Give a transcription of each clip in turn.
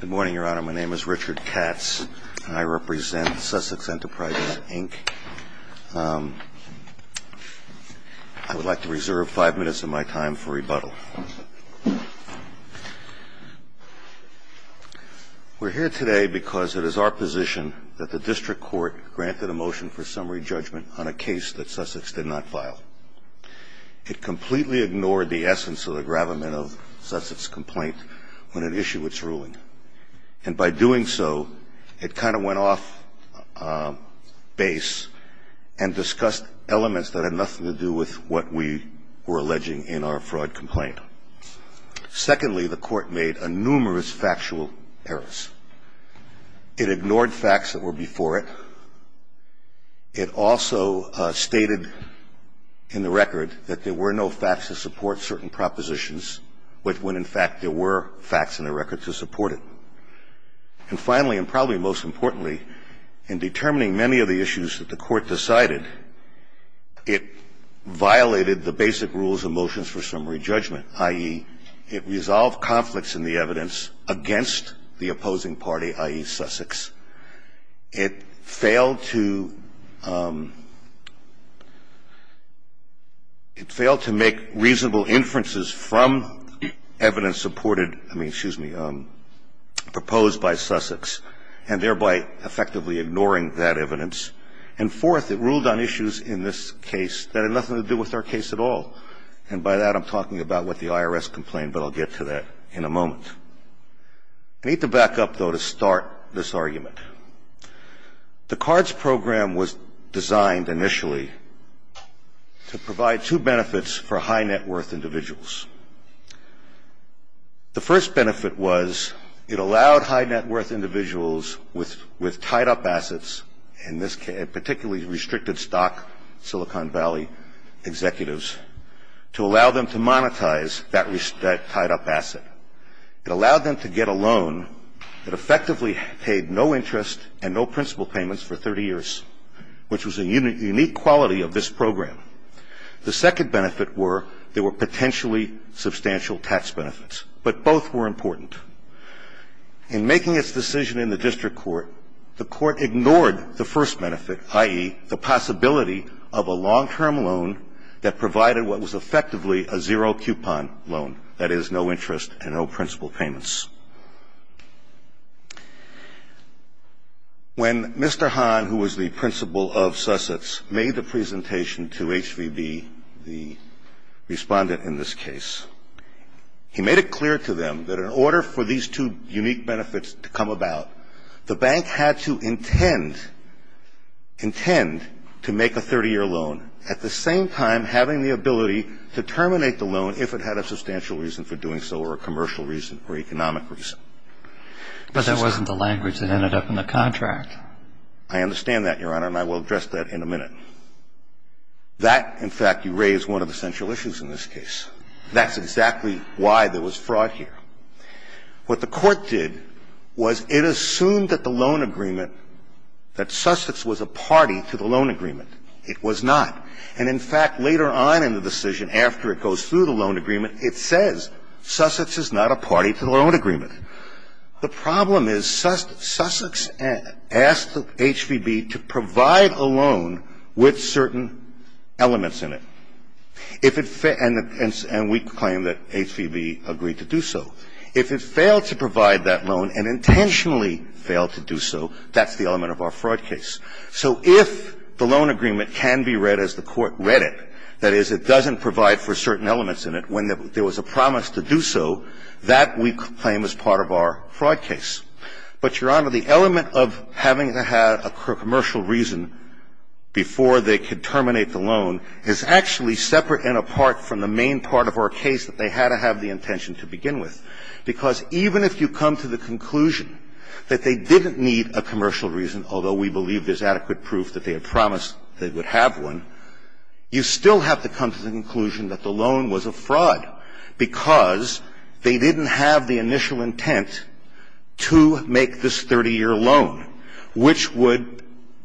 Good morning, Your Honor. My name is Richard Katz, and I represent Sussex Enterprises, Inc. I would like to reserve five minutes of my time for rebuttal. We're here today because it is our position that the District Court granted a motion for summary judgment on a case that Sussex did not file. It completely ignored the essence of the gravamen of Sussex's complaint when it issued its ruling. And by doing so, it kind of went off base and discussed elements that had nothing to do with what we were alleging in our fraud complaint. Secondly, the Court made a numerous factual errors. It ignored facts that were before it. It also stated in the record that there were no facts to support certain propositions when, in fact, there were facts in the record to support it. And finally, and probably most importantly, in determining many of the issues that the Court decided, it violated the basic rules of motions for summary judgment, i.e., it resolved conflicts in the evidence against the opposing party, i.e., Sussex. It failed to make reasonable inferences from evidence supported, I mean, excuse me, proposed by Sussex, and thereby effectively ignoring that evidence. And fourth, it ruled on issues in this case that had nothing to do with our case at all. And by that, I'm talking about what the IRS complained, but I'll get to that in a moment. I need to back up, though, to start this argument. The CARDS program was designed initially to provide two benefits for high net worth individuals. The first benefit was it allowed high net worth individuals with tied up assets, particularly restricted stock Silicon Valley executives, to allow them to monetize that tied up asset. It allowed them to get a loan that effectively paid no interest and no principal payments for 30 years, which was a unique quality of this program. The second benefit were there were potentially substantial tax benefits, but both were important. In making its decision in the district court, the court ignored the first benefit, i.e., the possibility of a long-term loan that provided what was effectively a zero-coupon loan, that is, no interest and no principal payments. When Mr. Hahn, who was the principal of Sussex, made the presentation to HVB, the respondent in this case, he made it clear to them that in order for these two unique benefits to come about, the bank had to intend to make a 30-year loan, at the same time having the ability to terminate the loan if it had a substantial reason for doing so or a commercial reason or economic reason. But that wasn't the language that ended up in the contract. I understand that, Your Honor, and I will address that in a minute. That, in fact, you raise one of the central issues in this case. That's exactly why there was fraud here. What the court did was it assumed that the loan agreement, that Sussex was a party to the loan agreement. It was not. And, in fact, later on in the decision, after it goes through the loan agreement, it says Sussex is not a party to the loan agreement. The problem is Sussex asked HVB to provide a loan with certain elements in it. And we claim that HVB agreed to do so. If it failed to provide that loan and intentionally failed to do so, that's the element of our fraud case. So if the loan agreement can be read as the court read it, that is, it doesn't provide for certain elements in it. When there was a promise to do so, that, we claim, is part of our fraud case. But, Your Honor, the element of having to have a commercial reason before they could terminate the loan is actually separate and apart from the main part of our case that they had to have the intention to begin with. Because even if you come to the conclusion that they didn't need a commercial reason, although we believe there's adequate proof that they had promised they would have one, you still have to come to the conclusion that the loan was a fraud because they didn't have the initial intent to make this 30-year loan, which would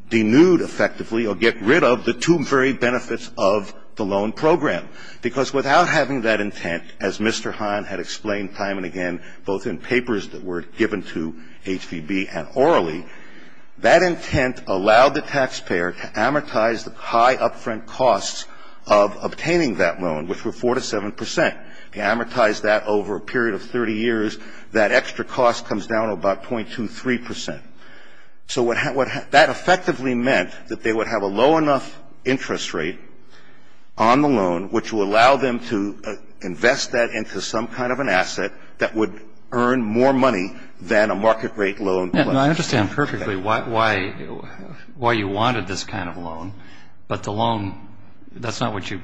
denude effectively or get rid of the two very benefits of the loan program. Because without having that intent, as Mr. Hahn had explained time and again both in papers that were given to HVB and orally, that intent allowed the taxpayer to amortize the high upfront costs of obtaining that loan, which were 4 to 7 percent. They amortized that over a period of 30 years. That extra cost comes down to about 0.23 percent. So that effectively meant that they would have a low enough interest rate on the loan which would allow them to invest that into some kind of an asset that would earn more money than a market rate loan would. I understand perfectly why you wanted this kind of loan, but the loan, that's not what you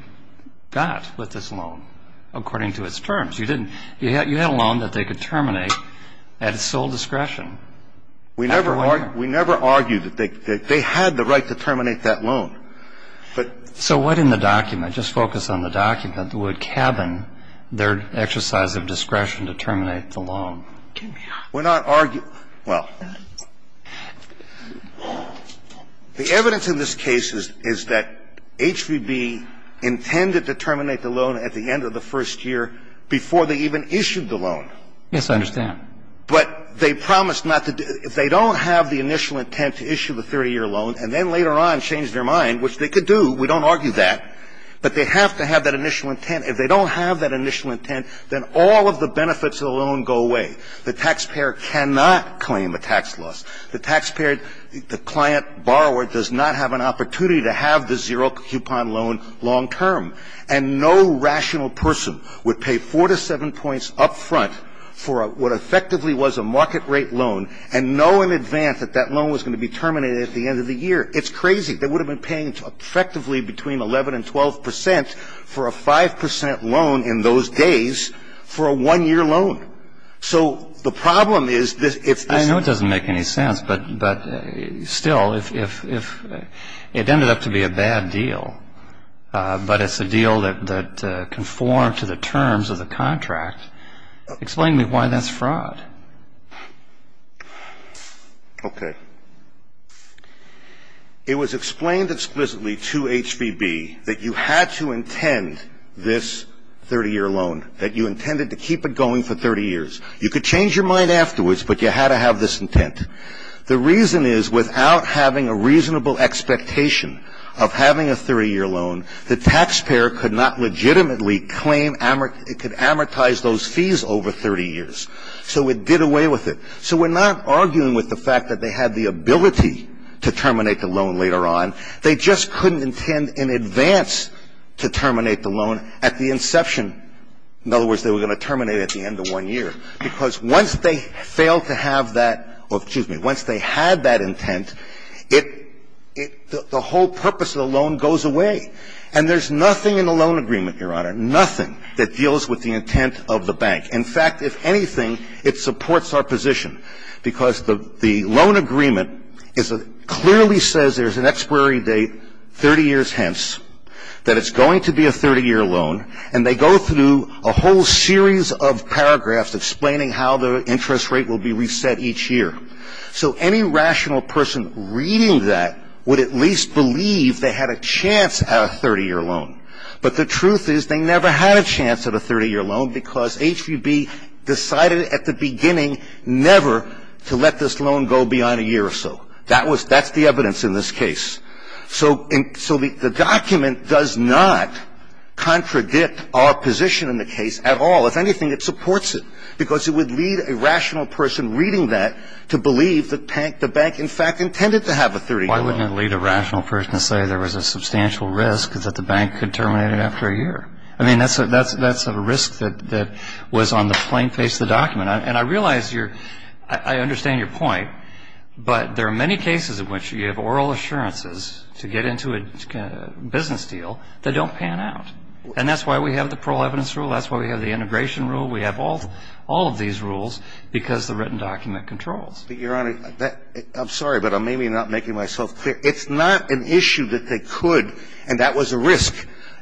got with this loan according to its terms. You had a loan that they could terminate at its sole discretion. We never argued that they had the right to terminate that loan. So what in the document, just focus on the document, would cabin their exercise of discretion to terminate the loan? We're not arguing, well, the evidence in this case is that HVB intended to terminate the loan at the end of the first year before they even issued the loan. Yes, I understand. But they promised not to, if they don't have the initial intent to issue the 30-year loan and then later on change their mind, which they could do, we don't argue that, but they have to have that initial intent. And if they don't have that initial intent, then all of the benefits of the loan go away. The taxpayer cannot claim a tax loss. The taxpayer, the client borrower does not have an opportunity to have the zero-coupon loan long term. And no rational person would pay four to seven points up front for what effectively was a market rate loan and know in advance that that loan was going to be terminated at the end of the year. It's crazy. They would have been paying effectively between 11 and 12 percent for a 5 percent loan in those days for a one-year loan. So the problem is if this is the case. I know it doesn't make any sense, but still, if it ended up to be a bad deal, but it's a deal that conformed to the terms of the contract, explain to me why that's fraud. Okay. It was explained explicitly to HBB that you had to intend this 30-year loan, that you intended to keep it going for 30 years. You could change your mind afterwards, but you had to have this intent. The reason is without having a reasonable expectation of having a 30-year loan, the taxpayer could not legitimately claim, it could amortize those fees over 30 years. So it did away with it. So we're not arguing with the fact that they had the ability to terminate the loan later on. They just couldn't intend in advance to terminate the loan at the inception. In other words, they were going to terminate it at the end of one year. Because once they failed to have that or, excuse me, once they had that intent, it the whole purpose of the loan goes away. And there's nothing in the loan agreement, Your Honor, nothing that deals with the intent of the bank. In fact, if anything, it supports our position, because the loan agreement clearly says there's an expiry date 30 years hence, that it's going to be a 30-year loan, and they go through a whole series of paragraphs explaining how the interest rate will be reset each year. So any rational person reading that would at least believe they had a chance at a 30-year loan. But the truth is they never had a chance at a 30-year loan, because HVB decided at the beginning never to let this loan go beyond a year or so. That's the evidence in this case. So the document does not contradict our position in the case at all. If anything, it supports it, because it would lead a rational person reading that to believe that the bank, in fact, intended to have a 30-year loan. Why wouldn't it lead a rational person to say there was a substantial risk that the bank could terminate it after a year? I mean, that's a risk that was on the plain face of the document. And I realize you're – I understand your point, but there are many cases in which you have oral assurances to get into a business deal that don't pan out. And that's why we have the parole evidence rule. That's why we have the integration rule. We have all of these rules, because the written document controls. But, Your Honor, I'm sorry, but I'm maybe not making myself clear. It's not an issue that they could, and that was a risk.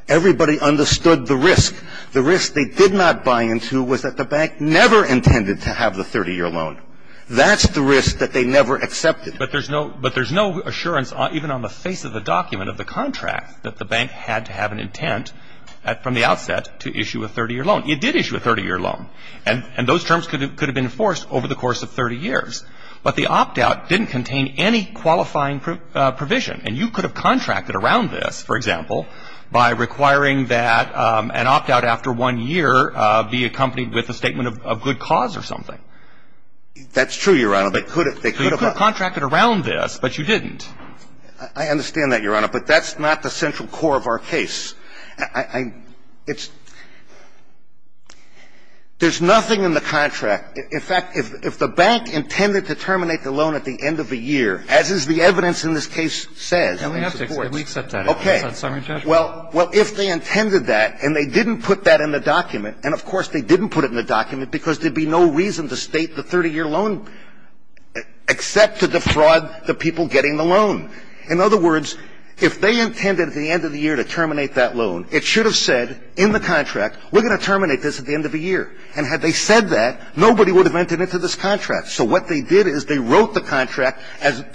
Everybody understood the risk. The risk they did not buy into was that the bank never intended to have the 30-year loan. That's the risk that they never accepted. But there's no – but there's no assurance even on the face of the document of the contract that the bank had to have an intent from the outset to issue a 30-year It did issue a 30-year loan. And those terms could have been enforced over the course of 30 years. But the opt-out didn't contain any qualifying provision. And you could have contracted around this, for example, by requiring that an opt-out after one year be accompanied with a statement of good cause or something. That's true, Your Honor. They could have. They could have contracted around this, but you didn't. I understand that, Your Honor. But that's not the central core of our case. There's nothing in the contract. In fact, if the bank intended to terminate the loan at the end of the year, as is the evidence in this case says, and we have supports. Okay. Well, if they intended that and they didn't put that in the document, and of course they didn't put it in the document because there would be no reason to state the 30-year loan except to defraud the people getting the loan. In other words, if they intended at the end of the year to terminate that loan, it should have said in the contract, we're going to terminate this at the end of the year. And had they said that, nobody would have entered into this contract. So what they did is they wrote the contract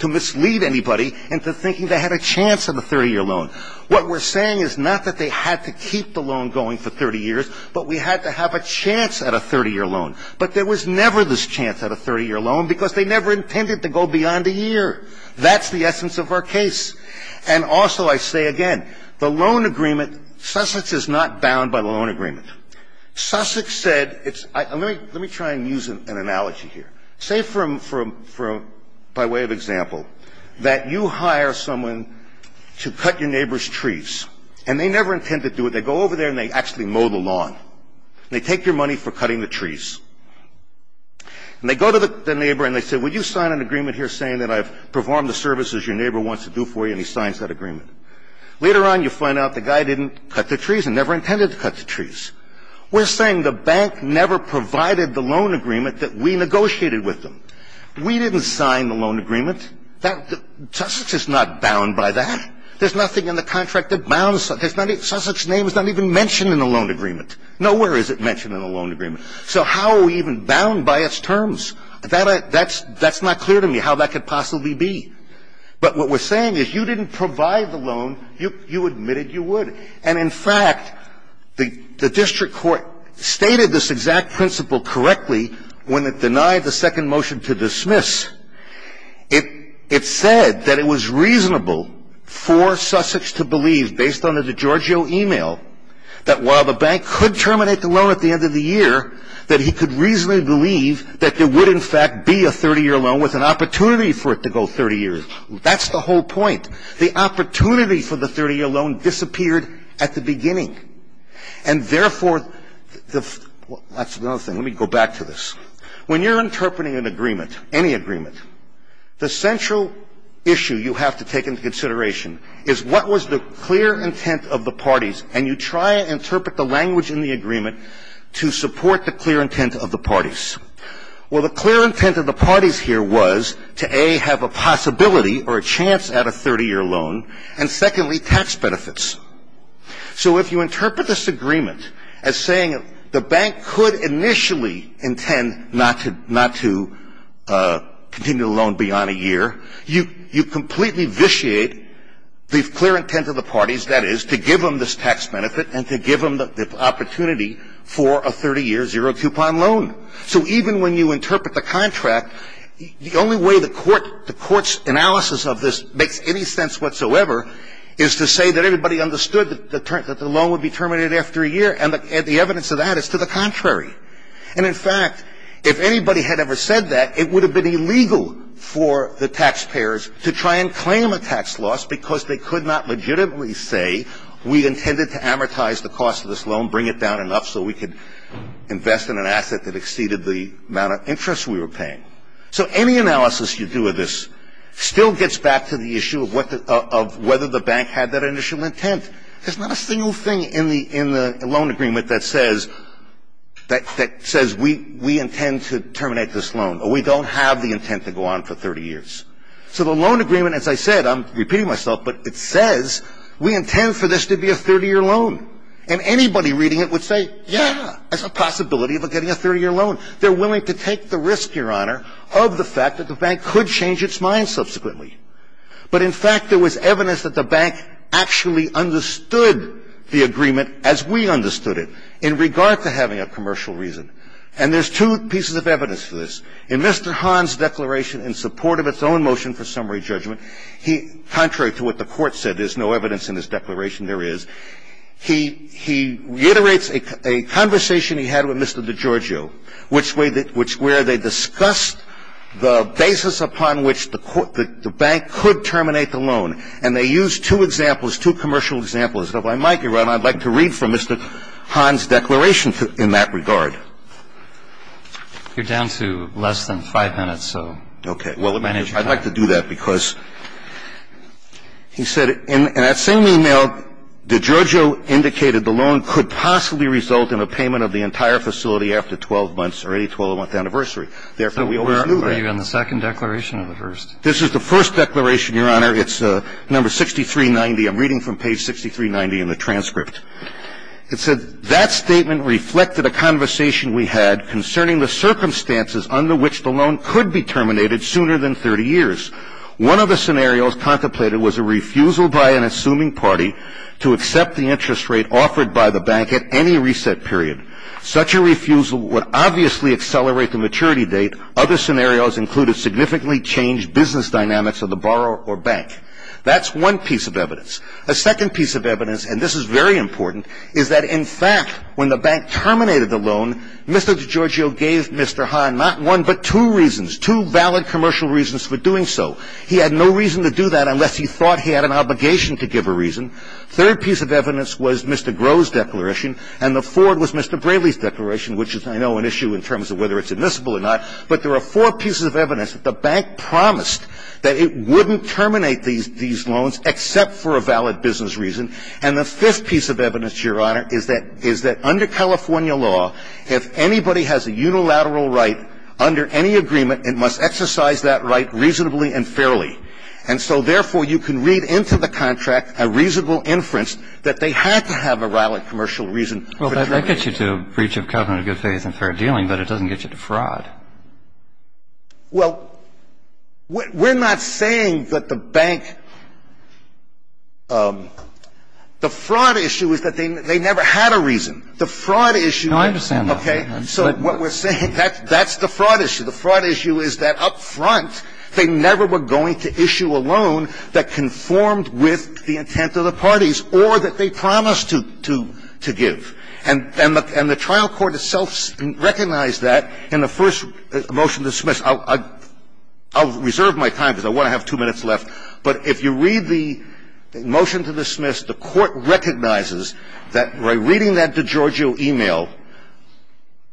to mislead anybody into thinking they had a chance at a 30-year loan. What we're saying is not that they had to keep the loan going for 30 years, but we had to have a chance at a 30-year loan. But there was never this chance at a 30-year loan because they never intended to go beyond a year. That's the essence of our case. And also I say again, the loan agreement, Sussex is not bound by the loan agreement. Sussex said it's – let me try and use an analogy here. Say from – by way of example, that you hire someone to cut your neighbor's trees, and they never intend to do it. They go over there and they actually mow the lawn. They take your money for cutting the trees. And they go to the neighbor and they say, would you sign an agreement here saying that I've performed the service as your neighbor wants to do for you, and he signs that agreement. Later on, you find out the guy didn't cut the trees and never intended to cut the trees. We're saying the bank never provided the loan agreement that we negotiated with them. We didn't sign the loan agreement. Sussex is not bound by that. There's nothing in the contract that bounds – Sussex's name is not even mentioned in the loan agreement. Nowhere is it mentioned in the loan agreement. So how are we even bound by its terms? That's not clear to me how that could possibly be. But what we're saying is you didn't provide the loan. You admitted you would. And in fact, the district court stated this exact principle correctly when it denied the second motion to dismiss. It said that it was reasonable for Sussex to believe, based on the DiGiorgio email, that while the bank could terminate the loan at the end of the year, that he could reasonably believe that there would, in fact, be a 30-year loan with an opportunity for it to go 30 years. That's the whole point. The opportunity for the 30-year loan disappeared at the beginning. And therefore, the – that's another thing. Let me go back to this. When you're interpreting an agreement, any agreement, the central issue you have to take into consideration is what was the clear intent of the parties, and you try and interpret the language in the agreement to support the clear intent of the parties. Well, the clear intent of the parties here was to, A, have a possibility or a chance at a 30-year loan, and, secondly, tax benefits. So if you interpret this agreement as saying the bank could initially intend not to continue the loan beyond a year, you completely vitiate the clear intent of the parties, that is, to give them this tax benefit and to give them the opportunity for a 30-year zero-coupon loan. So even when you interpret the contract, the only way the court's analysis of this makes any sense whatsoever is to say that everybody understood that the loan would be terminated after a year. And the evidence of that is to the contrary. And, in fact, if anybody had ever said that, it would have been illegal for the taxpayers to try and claim a tax loss because they could not legitimately say, we intended to amortize the cost of this loan, bring it down enough so we could invest in an asset that exceeded the amount of interest we were paying. So any analysis you do of this still gets back to the issue of whether the bank had that initial intent. There's not a single thing in the loan agreement that says we intend to terminate this loan, or we don't have the intent to go on for 30 years. So the loan agreement, as I said, I'm repeating myself, but it says we intend for this to be a 30-year loan. And anybody reading it would say, yeah, there's a possibility of getting a 30-year loan. They're willing to take the risk, Your Honor, of the fact that the bank could change its mind subsequently. But, in fact, there was evidence that the bank actually understood the agreement as we understood it in regard to having a commercial reason. And there's two pieces of evidence for this. In Mr. Hahn's declaration in support of its own motion for summary judgment, contrary to what the Court said, there's no evidence in his declaration there is, he reiterates a conversation he had with Mr. DiGiorgio where they discussed the basis upon which the bank could terminate the loan. And they used two examples, two commercial examples. If I might, Your Honor, I'd like to read from Mr. Hahn's declaration in that regard. Mr. Hahn's declaration in support of its own motion for summary judgment, contrary to what the Court said, there's no evidence in his declaration there is, he reiterates a conversation he had with Mr. DiGiorgio where they discussed the basis upon which the bank could terminate the loan. And there's no evidence in his declaration there is, he reiterates a conversation he had with Mr. DiGiorgio where they discussed the basis upon which the bank could terminate the loan. It said, that statement reflected a conversation we had concerning the circumstances under which the loan could be terminated sooner than 30 years. One of the scenarios contemplated was a refusal by an assuming party to accept the interest rate offered by the bank at any reset period. Such a refusal would obviously accelerate the maturity date. Other scenarios included significantly changed business dynamics of the borrower or bank. That's one piece of evidence. A second piece of evidence, and this is very important, is that in fact when the bank terminated the loan, Mr. DiGiorgio gave Mr. Hahn not one but two reasons, two valid commercial reasons for doing so. He had no reason to do that unless he thought he had an obligation to give a reason. Third piece of evidence was Mr. Groh's declaration, and the fourth was Mr. Braley's declaration, which is, I know, an issue in terms of whether it's admissible or not. But there are four pieces of evidence that the bank promised that it wouldn't terminate these loans except for a valid business reason. And the fifth piece of evidence, Your Honor, is that under California law, if anybody has a unilateral right under any agreement, it must exercise that right reasonably and fairly. And so, therefore, you can read into the contract a reasonable inference that they had to have a valid commercial reason. Well, that gets you to breach of covenant of good faith and fair dealing, but it doesn't get you to fraud. Well, we're not saying that the bank – the fraud issue is that they never had a reason. The fraud issue – No, I understand that. Okay. So what we're saying, that's the fraud issue. The fraud issue is that up front, they never were going to issue a loan that conformed with the intent of the parties or that they promised to give. And the trial court itself recognized that in the first motion to dismiss. I'll reserve my time because I want to have two minutes left. But if you read the motion to dismiss, the court recognizes that by reading that DiGiorgio email,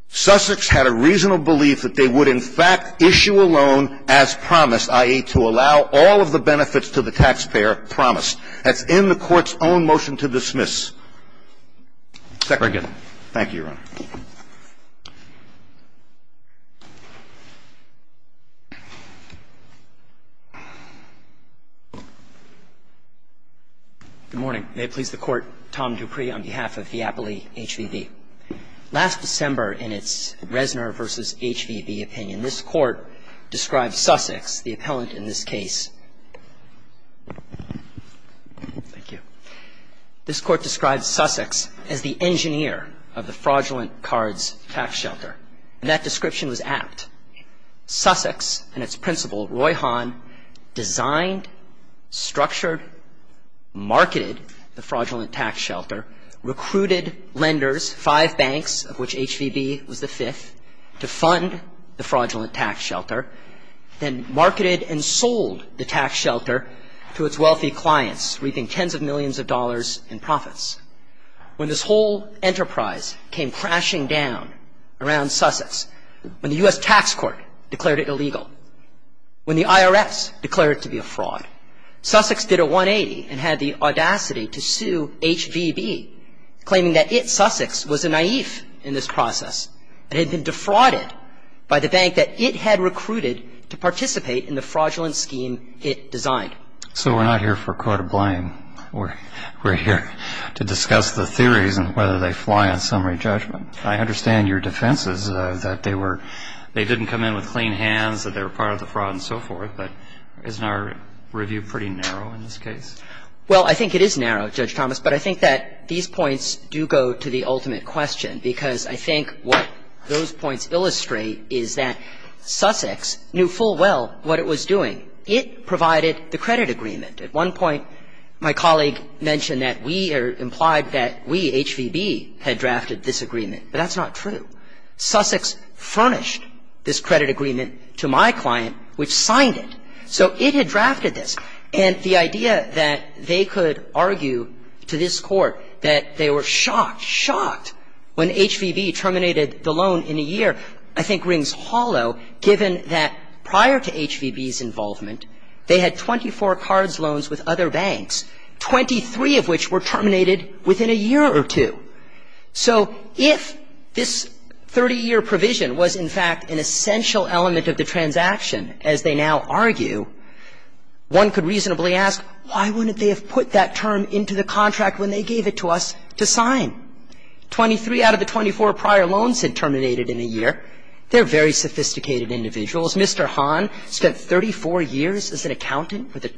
Sussex had a reasonable belief that they would in fact issue a loan as promised, i.e., to allow all of the benefits to the taxpayer promised. That's in the court's own motion to dismiss. Very good. Thank you, Your Honor. Good morning. May it please the Court. Tom Dupree on behalf of Fiapoli HVB. Last December in its Reznor v. HVB opinion, this Court described Sussex, the appellant in this case. Thank you. This Court described Sussex as the engineer of the fraudulent cards tax shelter. And that description was apt. Sussex and its principal, Roy Hahn, designed, structured, marketed the fraudulent tax shelter, recruited lenders, five banks, of which HVB was the fifth, to fund the fraudulent tax shelter, then marketed and sold the tax shelter to its wealthy clients, reaping tens of millions of dollars in profits. When this whole enterprise came crashing down around Sussex, when the U.S. tax court declared it illegal, when the IRS declared it to be a fraud, Sussex did a 180 and had the audacity to sue HVB, claiming that it, Sussex, was a naïve in this process and had been defrauded by the bank that it had recruited to participate in the fraudulent scheme it designed. So we're not here for court of blame. We're here to discuss the theories and whether they fly on summary judgment. I understand your defense is that they were they didn't come in with clean hands, that they were part of the fraud and so forth. But isn't our review pretty narrow in this case? Well, I think it is narrow, Judge Thomas. But I think that these points do go to the ultimate question, because I think what those points illustrate is that Sussex knew full well what it was doing. It provided the credit agreement. At one point, my colleague mentioned that we or implied that we, HVB, had drafted this agreement. But that's not true. Sussex furnished this credit agreement to my client, which signed it. So it had drafted this. And the idea that they could argue to this Court that they were shocked, shocked when HVB terminated the loan in a year I think rings hollow, given that prior to HVB's involvement, they had 24 cards loans with other banks, 23 of which were terminated within a year or two. So if this 30-year provision was, in fact, an essential element of the transaction, as they now argue, one could reasonably ask, why wouldn't they have put that term into the contract when they gave it to us to sign? Twenty-three out of the 24 prior loans had terminated in a year. They're very sophisticated individuals. Mr. Hahn spent 34 years as an accountant for the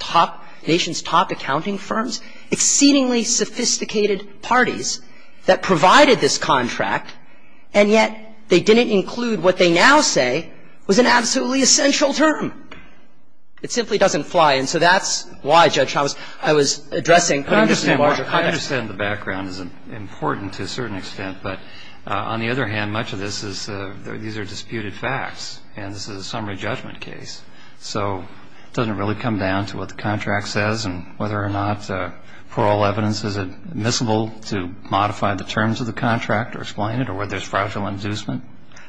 nation's top accounting firms, exceedingly sophisticated parties that provided this contract, and yet they didn't include what they now say was an absolutely essential term. It simply doesn't fly. And so that's why, Judge Chavez, I was addressing the larger context. I understand the background is important to a certain extent. But on the other hand, much of this is these are disputed facts. And this is a summary judgment case. So it doesn't really come down to what the contract says and whether or not the parole evidence is admissible to modify the terms of the contract or explain it or whether there's fragile inducement.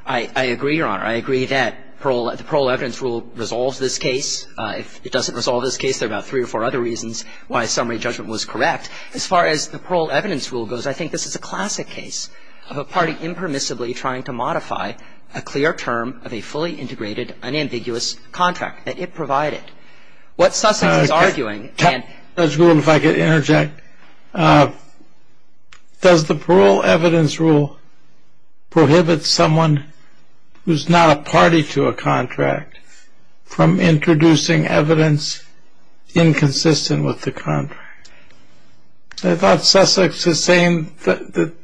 I agree, Your Honor. I agree that the parole evidence rule resolves this case. If it doesn't resolve this case, there are about three or four other reasons why summary judgment was correct. As far as the parole evidence rule goes, I think this is a classic case of a party impermissibly trying to modify a clear term of a fully integrated, unambiguous contract that it provided. What Sussex is arguing and — Judge Gould, if I could interject. Does the parole evidence rule prohibit someone who's not a party to a contract from introducing evidence inconsistent with the contract? I thought Sussex was saying that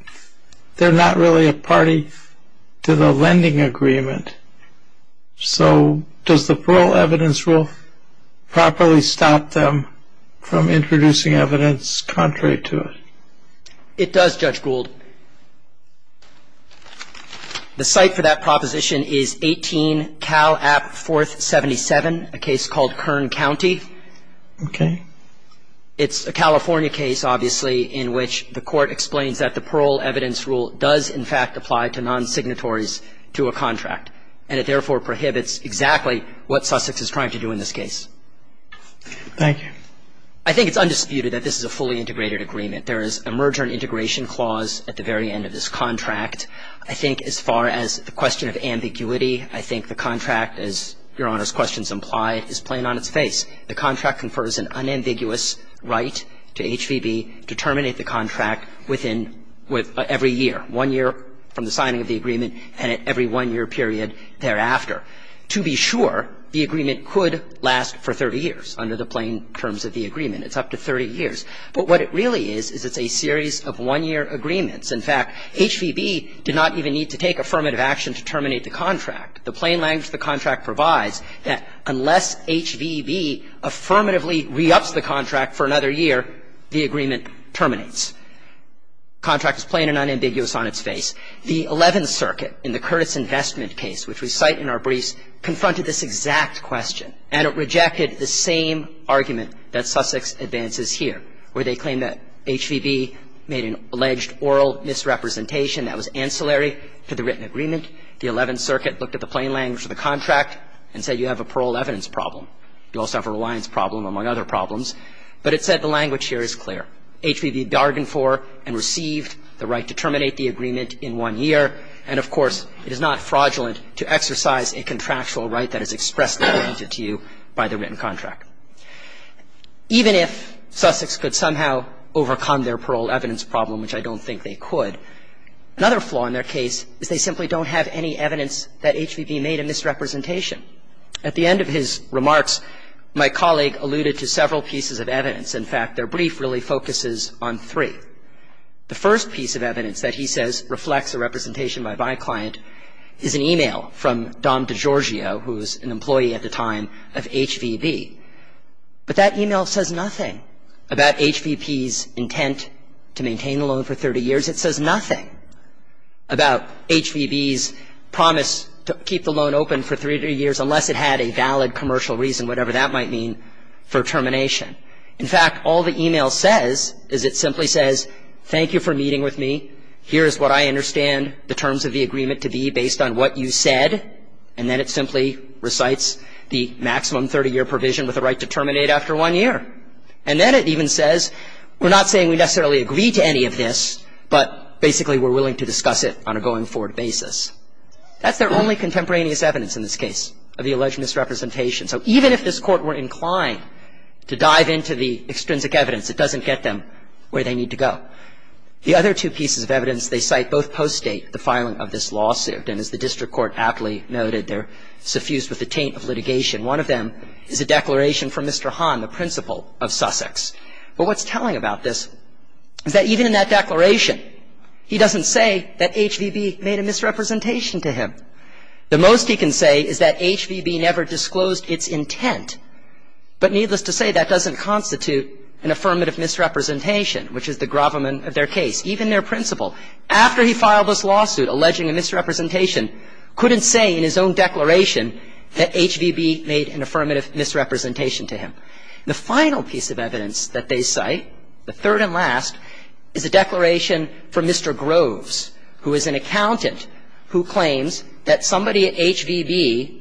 they're not really a party to the lending agreement. So does the parole evidence rule properly stop them from introducing evidence contrary to it? It does, Judge Gould. The site for that proposition is 18 Cal App 4th 77, a case called Kern County. Okay. It's a California case, obviously, in which the Court explains that the parole evidence rule does, in fact, apply to non-signatories to a contract, and it therefore prohibits exactly what Sussex is trying to do in this case. Thank you. I think it's undisputed that this is a fully integrated agreement. There is a merger and integration clause at the very end of this contract. I think as far as the question of ambiguity, I think the contract, as Your Honor's questions imply, is plain on its face. The contract confers an unambiguous right to HVB to terminate the contract within every year, one year from the signing of the agreement and at every one-year period thereafter. To be sure, the agreement could last for 30 years under the plain terms of the agreement. It's up to 30 years. But what it really is is it's a series of one-year agreements. In fact, HVB did not even need to take affirmative action to terminate the contract. The plain language of the contract provides that unless HVB affirmatively re-ups the contract for another year, the agreement terminates. The contract is plain and unambiguous on its face. The Eleventh Circuit in the Curtis Investment case, which we cite in our briefs, confronted this exact question, and it rejected the same argument that Sussex advances here, where they claim that HVB made an alleged oral misrepresentation that was ancillary to the written agreement. The Eleventh Circuit looked at the plain language of the contract and said you have a parole evidence problem. You also have a reliance problem, among other problems. But it said the language here is clear. HVB bargained for and received the right to terminate the agreement in one year. And, of course, it is not fraudulent to exercise a contractual right that is expressly granted to you by the written contract. Even if Sussex could somehow overcome their parole evidence problem, which I don't think they could, another flaw in their case is they simply don't have any evidence that HVB made a misrepresentation. At the end of his remarks, my colleague alluded to several pieces of evidence. In fact, their brief really focuses on three. The first piece of evidence that he says reflects a representation by my client is an e-mail from Dom DiGiorgio, who was an employee at the time of HVB. But that e-mail says nothing about HVB's intent to maintain the loan for 30 years. It says nothing about HVB's promise to keep the loan open for three years unless it had a valid commercial reason, whatever that might mean, for termination. In fact, all the e-mail says is it simply says, thank you for meeting with me. Here is what I understand the terms of the agreement to be based on what you said. And then it simply recites the maximum 30-year provision with the right to terminate after one year. And then it even says we're not saying we necessarily agree to any of this, but basically we're willing to discuss it on a going-forward basis. That's their only contemporaneous evidence in this case of the alleged misrepresentation. So even if this Court were inclined to dive into the extrinsic evidence, it doesn't get them where they need to go. The other two pieces of evidence they cite both postdate the filing of this lawsuit. And as the district court aptly noted, they're suffused with the taint of litigation. One of them is a declaration from Mr. Hahn, the principal of Sussex. But what's telling about this is that even in that declaration, he doesn't say that HVB made a misrepresentation to him. The most he can say is that HVB never disclosed its intent. But needless to say, that doesn't constitute an affirmative misrepresentation, which is the gravamen of their case. Even their principal, after he filed this lawsuit alleging a misrepresentation, couldn't say in his own declaration that HVB made an affirmative misrepresentation to him. The final piece of evidence that they cite, the third and last, is a declaration from Mr. Groves, who is an accountant, who claims that somebody at HVB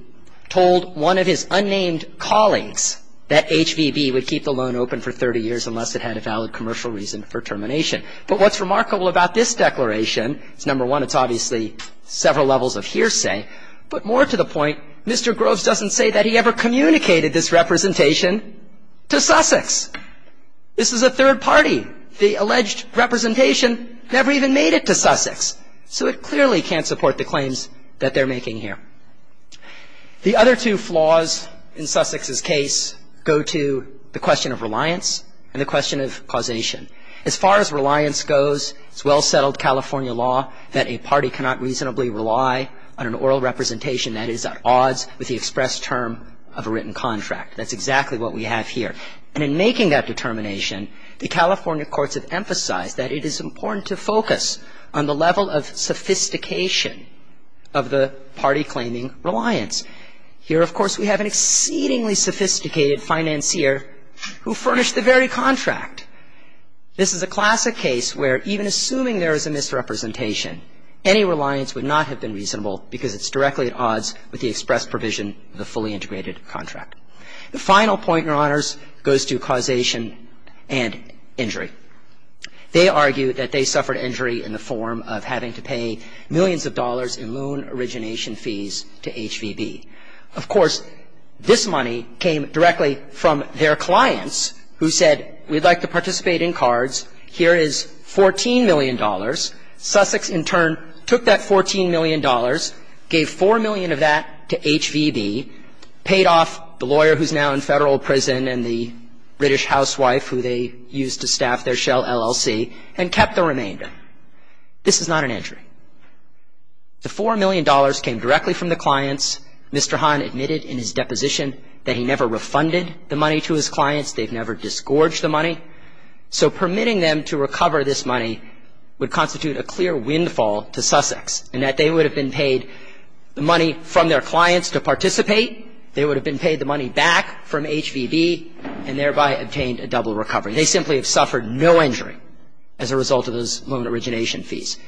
told one of his unnamed colleagues that HVB would keep the loan open for 30 years unless it had a valid commercial reason for termination. But what's remarkable about this declaration is, number one, it's obviously several levels of hearsay. But more to the point, Mr. Groves doesn't say that he ever communicated this representation to Sussex. This is a third party. The alleged representation never even made it to Sussex. So it clearly can't support the claims that they're making here. The other two flaws in Sussex's case go to the question of reliance and the question of causation. As far as reliance goes, it's well-settled California law that a party cannot reasonably rely on an oral representation that is at odds with the express term of a written contract. That's exactly what we have here. And in making that determination, the California courts have emphasized that it is important to focus on the level of sophistication of the party claiming reliance. Here, of course, we have an exceedingly sophisticated financier who furnished the very contract. This is a classic case where even assuming there is a misrepresentation, any reliance would not have been reasonable because it's directly at odds with the express provision of the fully integrated contract. The final point, Your Honors, goes to causation and injury. They argue that they suffered injury in the form of having to pay millions of dollars in loan origination fees to HVB. Of course, this money came directly from their clients, who said, we'd like to participate in cards. Here is $14 million. Sussex, in turn, took that $14 million, gave $4 million of that to HVB, paid off the lawyer who's now in Federal prison and the British housewife who they used to staff their shell LLC, and kept the remainder. This is not an injury. The $4 million came directly from the clients. Mr. Hahn admitted in his deposition that he never refunded the money to his clients. They've never disgorged the money. So permitting them to recover this money would constitute a clear windfall to Sussex in that they would have been paid the money from their clients to participate. They would have been paid the money back from HVB and thereby obtained a double recovery. They simply have suffered no injury as a result of those loan origination fees.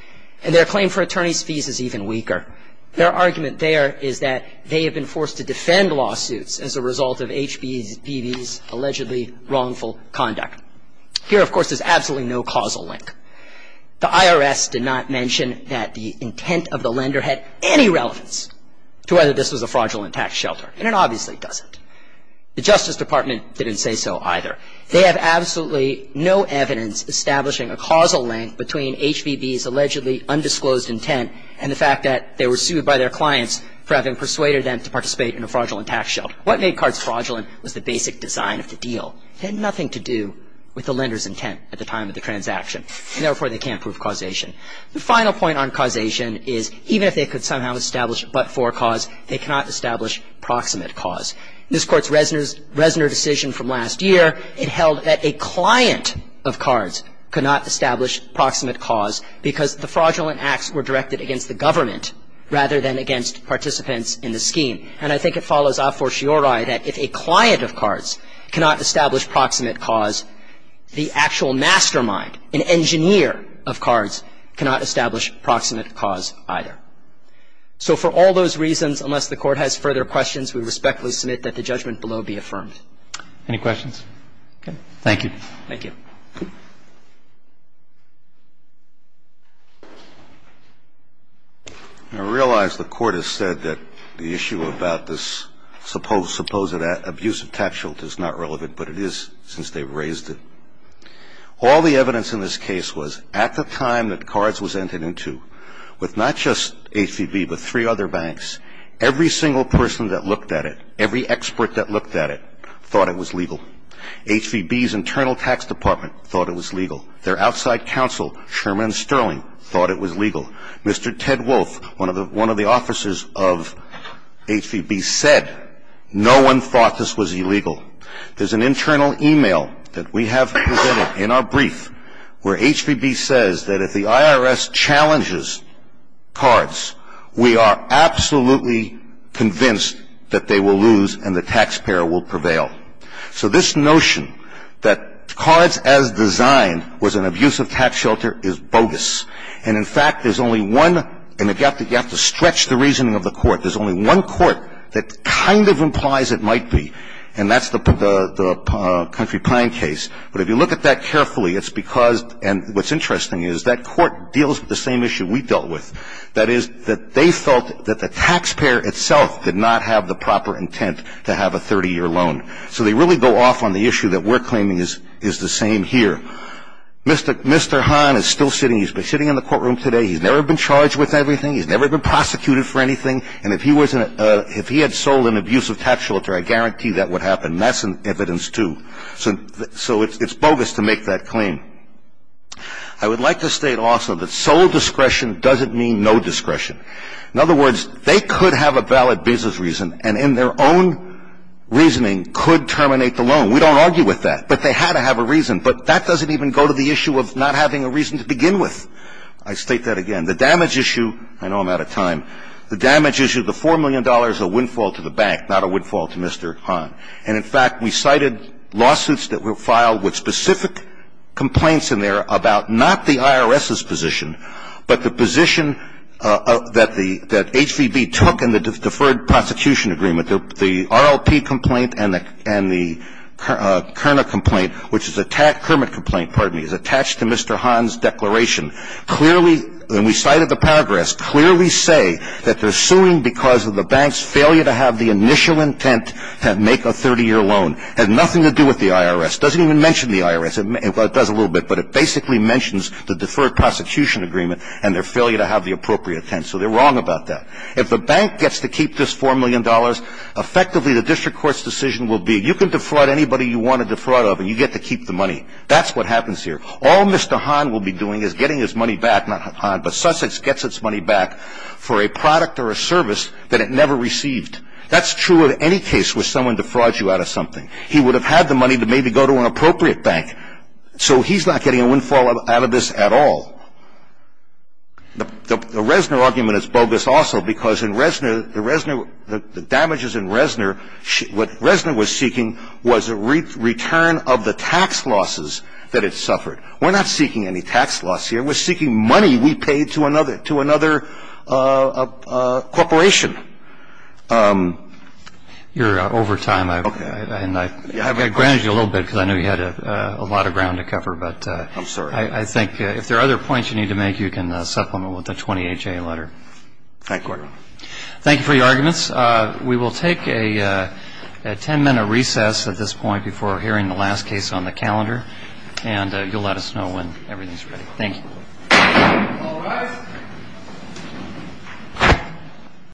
And their claim for attorney's fees is even weaker. Their argument there is that they have been forced to defend lawsuits as a result of HVB's allegedly wrongful conduct. Here, of course, there's absolutely no causal link. The IRS did not mention that the intent of the lender had any relevance to whether this was a fraudulent tax shelter, and it obviously doesn't. The Justice Department didn't say so either. They have absolutely no evidence establishing a causal link between HVB's allegedly undisclosed intent and the fact that they were sued by their clients for having persuaded them to participate in a fraudulent tax shelter. What made cards fraudulent was the basic design of the deal. It had nothing to do with the lender's intent at the time of the transaction, and therefore, they can't prove causation. The final point on causation is even if they could somehow establish but-for cause, they cannot establish proximate cause. In this Court's Resner decision from last year, it held that a client of cards could not establish proximate cause because the fraudulent acts were directed against the government rather than against participants in the scheme. And I think it follows a fortiori that if a client of cards cannot establish proximate cause, the actual mastermind, an engineer of cards, cannot establish proximate cause either. So for all those reasons, unless the Court has further questions, we respectfully submit that the judgment below be affirmed. Any questions? Okay. Thank you. Thank you. I realize the Court has said that the issue about this supposed abusive tax shelter is not relevant, but it is since they've raised it. All the evidence in this case was at the time that cards was entered into, with not just HVB but three other banks. Every single person that looked at it, every expert that looked at it, thought it was legal. HVB's internal tax department thought it was legal. Their outside counsel, Sherman Sterling, thought it was legal. Mr. Ted Wolf, one of the officers of HVB, said no one thought this was illegal. There's an internal email that we have presented in our brief where HVB says that if the IRS challenges cards, we are absolutely convinced that they will lose and the taxpayer will prevail. So this notion that cards as designed was an abusive tax shelter is bogus. And, in fact, there's only one, and you have to stretch the reasoning of the Court, there's only one Court that kind of implies it might be, and that's the Country Pine case. But if you look at that carefully, it's because, and what's interesting is, that Court deals with the same issue we dealt with, that is that they felt that the taxpayer itself did not have the proper intent to have a 30-year loan. So they really go off on the issue that we're claiming is the same here. Mr. Hahn is still sitting. He's been sitting in the courtroom today. He's never been charged with anything. He's never been prosecuted for anything. And if he had sold an abusive tax shelter, I guarantee that would happen. That's in evidence, too. So it's bogus to make that claim. I would like to state also that sole discretion doesn't mean no discretion. In other words, they could have a valid business reason, and in their own reasoning could terminate the loan. We don't argue with that. But they had to have a reason. But that doesn't even go to the issue of not having a reason to begin with. I state that again. The damage issue, I know I'm out of time. The damage issue, the $4 million, a windfall to the bank, not a windfall to Mr. Hahn. And, in fact, we cited lawsuits that were filed with specific complaints in there about not the IRS's position, but the position that HVB took in the Deferred Prosecution Agreement. The RLP complaint and the Kerner complaint, which is a Kermit complaint, pardon me, is attached to Mr. Hahn's declaration. Clearly, when we cited the paragraphs, that they're suing because of the bank's failure to have the initial intent to make a 30-year loan. It had nothing to do with the IRS. It doesn't even mention the IRS. It does a little bit, but it basically mentions the Deferred Prosecution Agreement and their failure to have the appropriate intent. So they're wrong about that. If the bank gets to keep this $4 million, effectively the district court's decision will be, you can defraud anybody you want to defraud of, and you get to keep the money. That's what happens here. All Mr. Hahn will be doing is getting his money back, not Hahn, but Sussex gets its money back for a product or a service that it never received. That's true of any case where someone defrauds you out of something. He would have had the money to maybe go to an appropriate bank. So he's not getting a windfall out of this at all. The Reznor argument is bogus also because in Reznor, the damages in Reznor, what Reznor was seeking was a return of the tax losses that it suffered. We're not seeking any tax loss here. We're seeking money we paid to another corporation. You're over time. Okay. And I granted you a little bit because I know you had a lot of ground to cover. I'm sorry. But I think if there are other points you need to make, you can supplement with the 20HA letter. Thank you, Your Honor. Thank you for your arguments. We will take a ten-minute recess at this point before hearing the last case on the calendar, and you'll let us know when everything's ready. Thank you. All rise.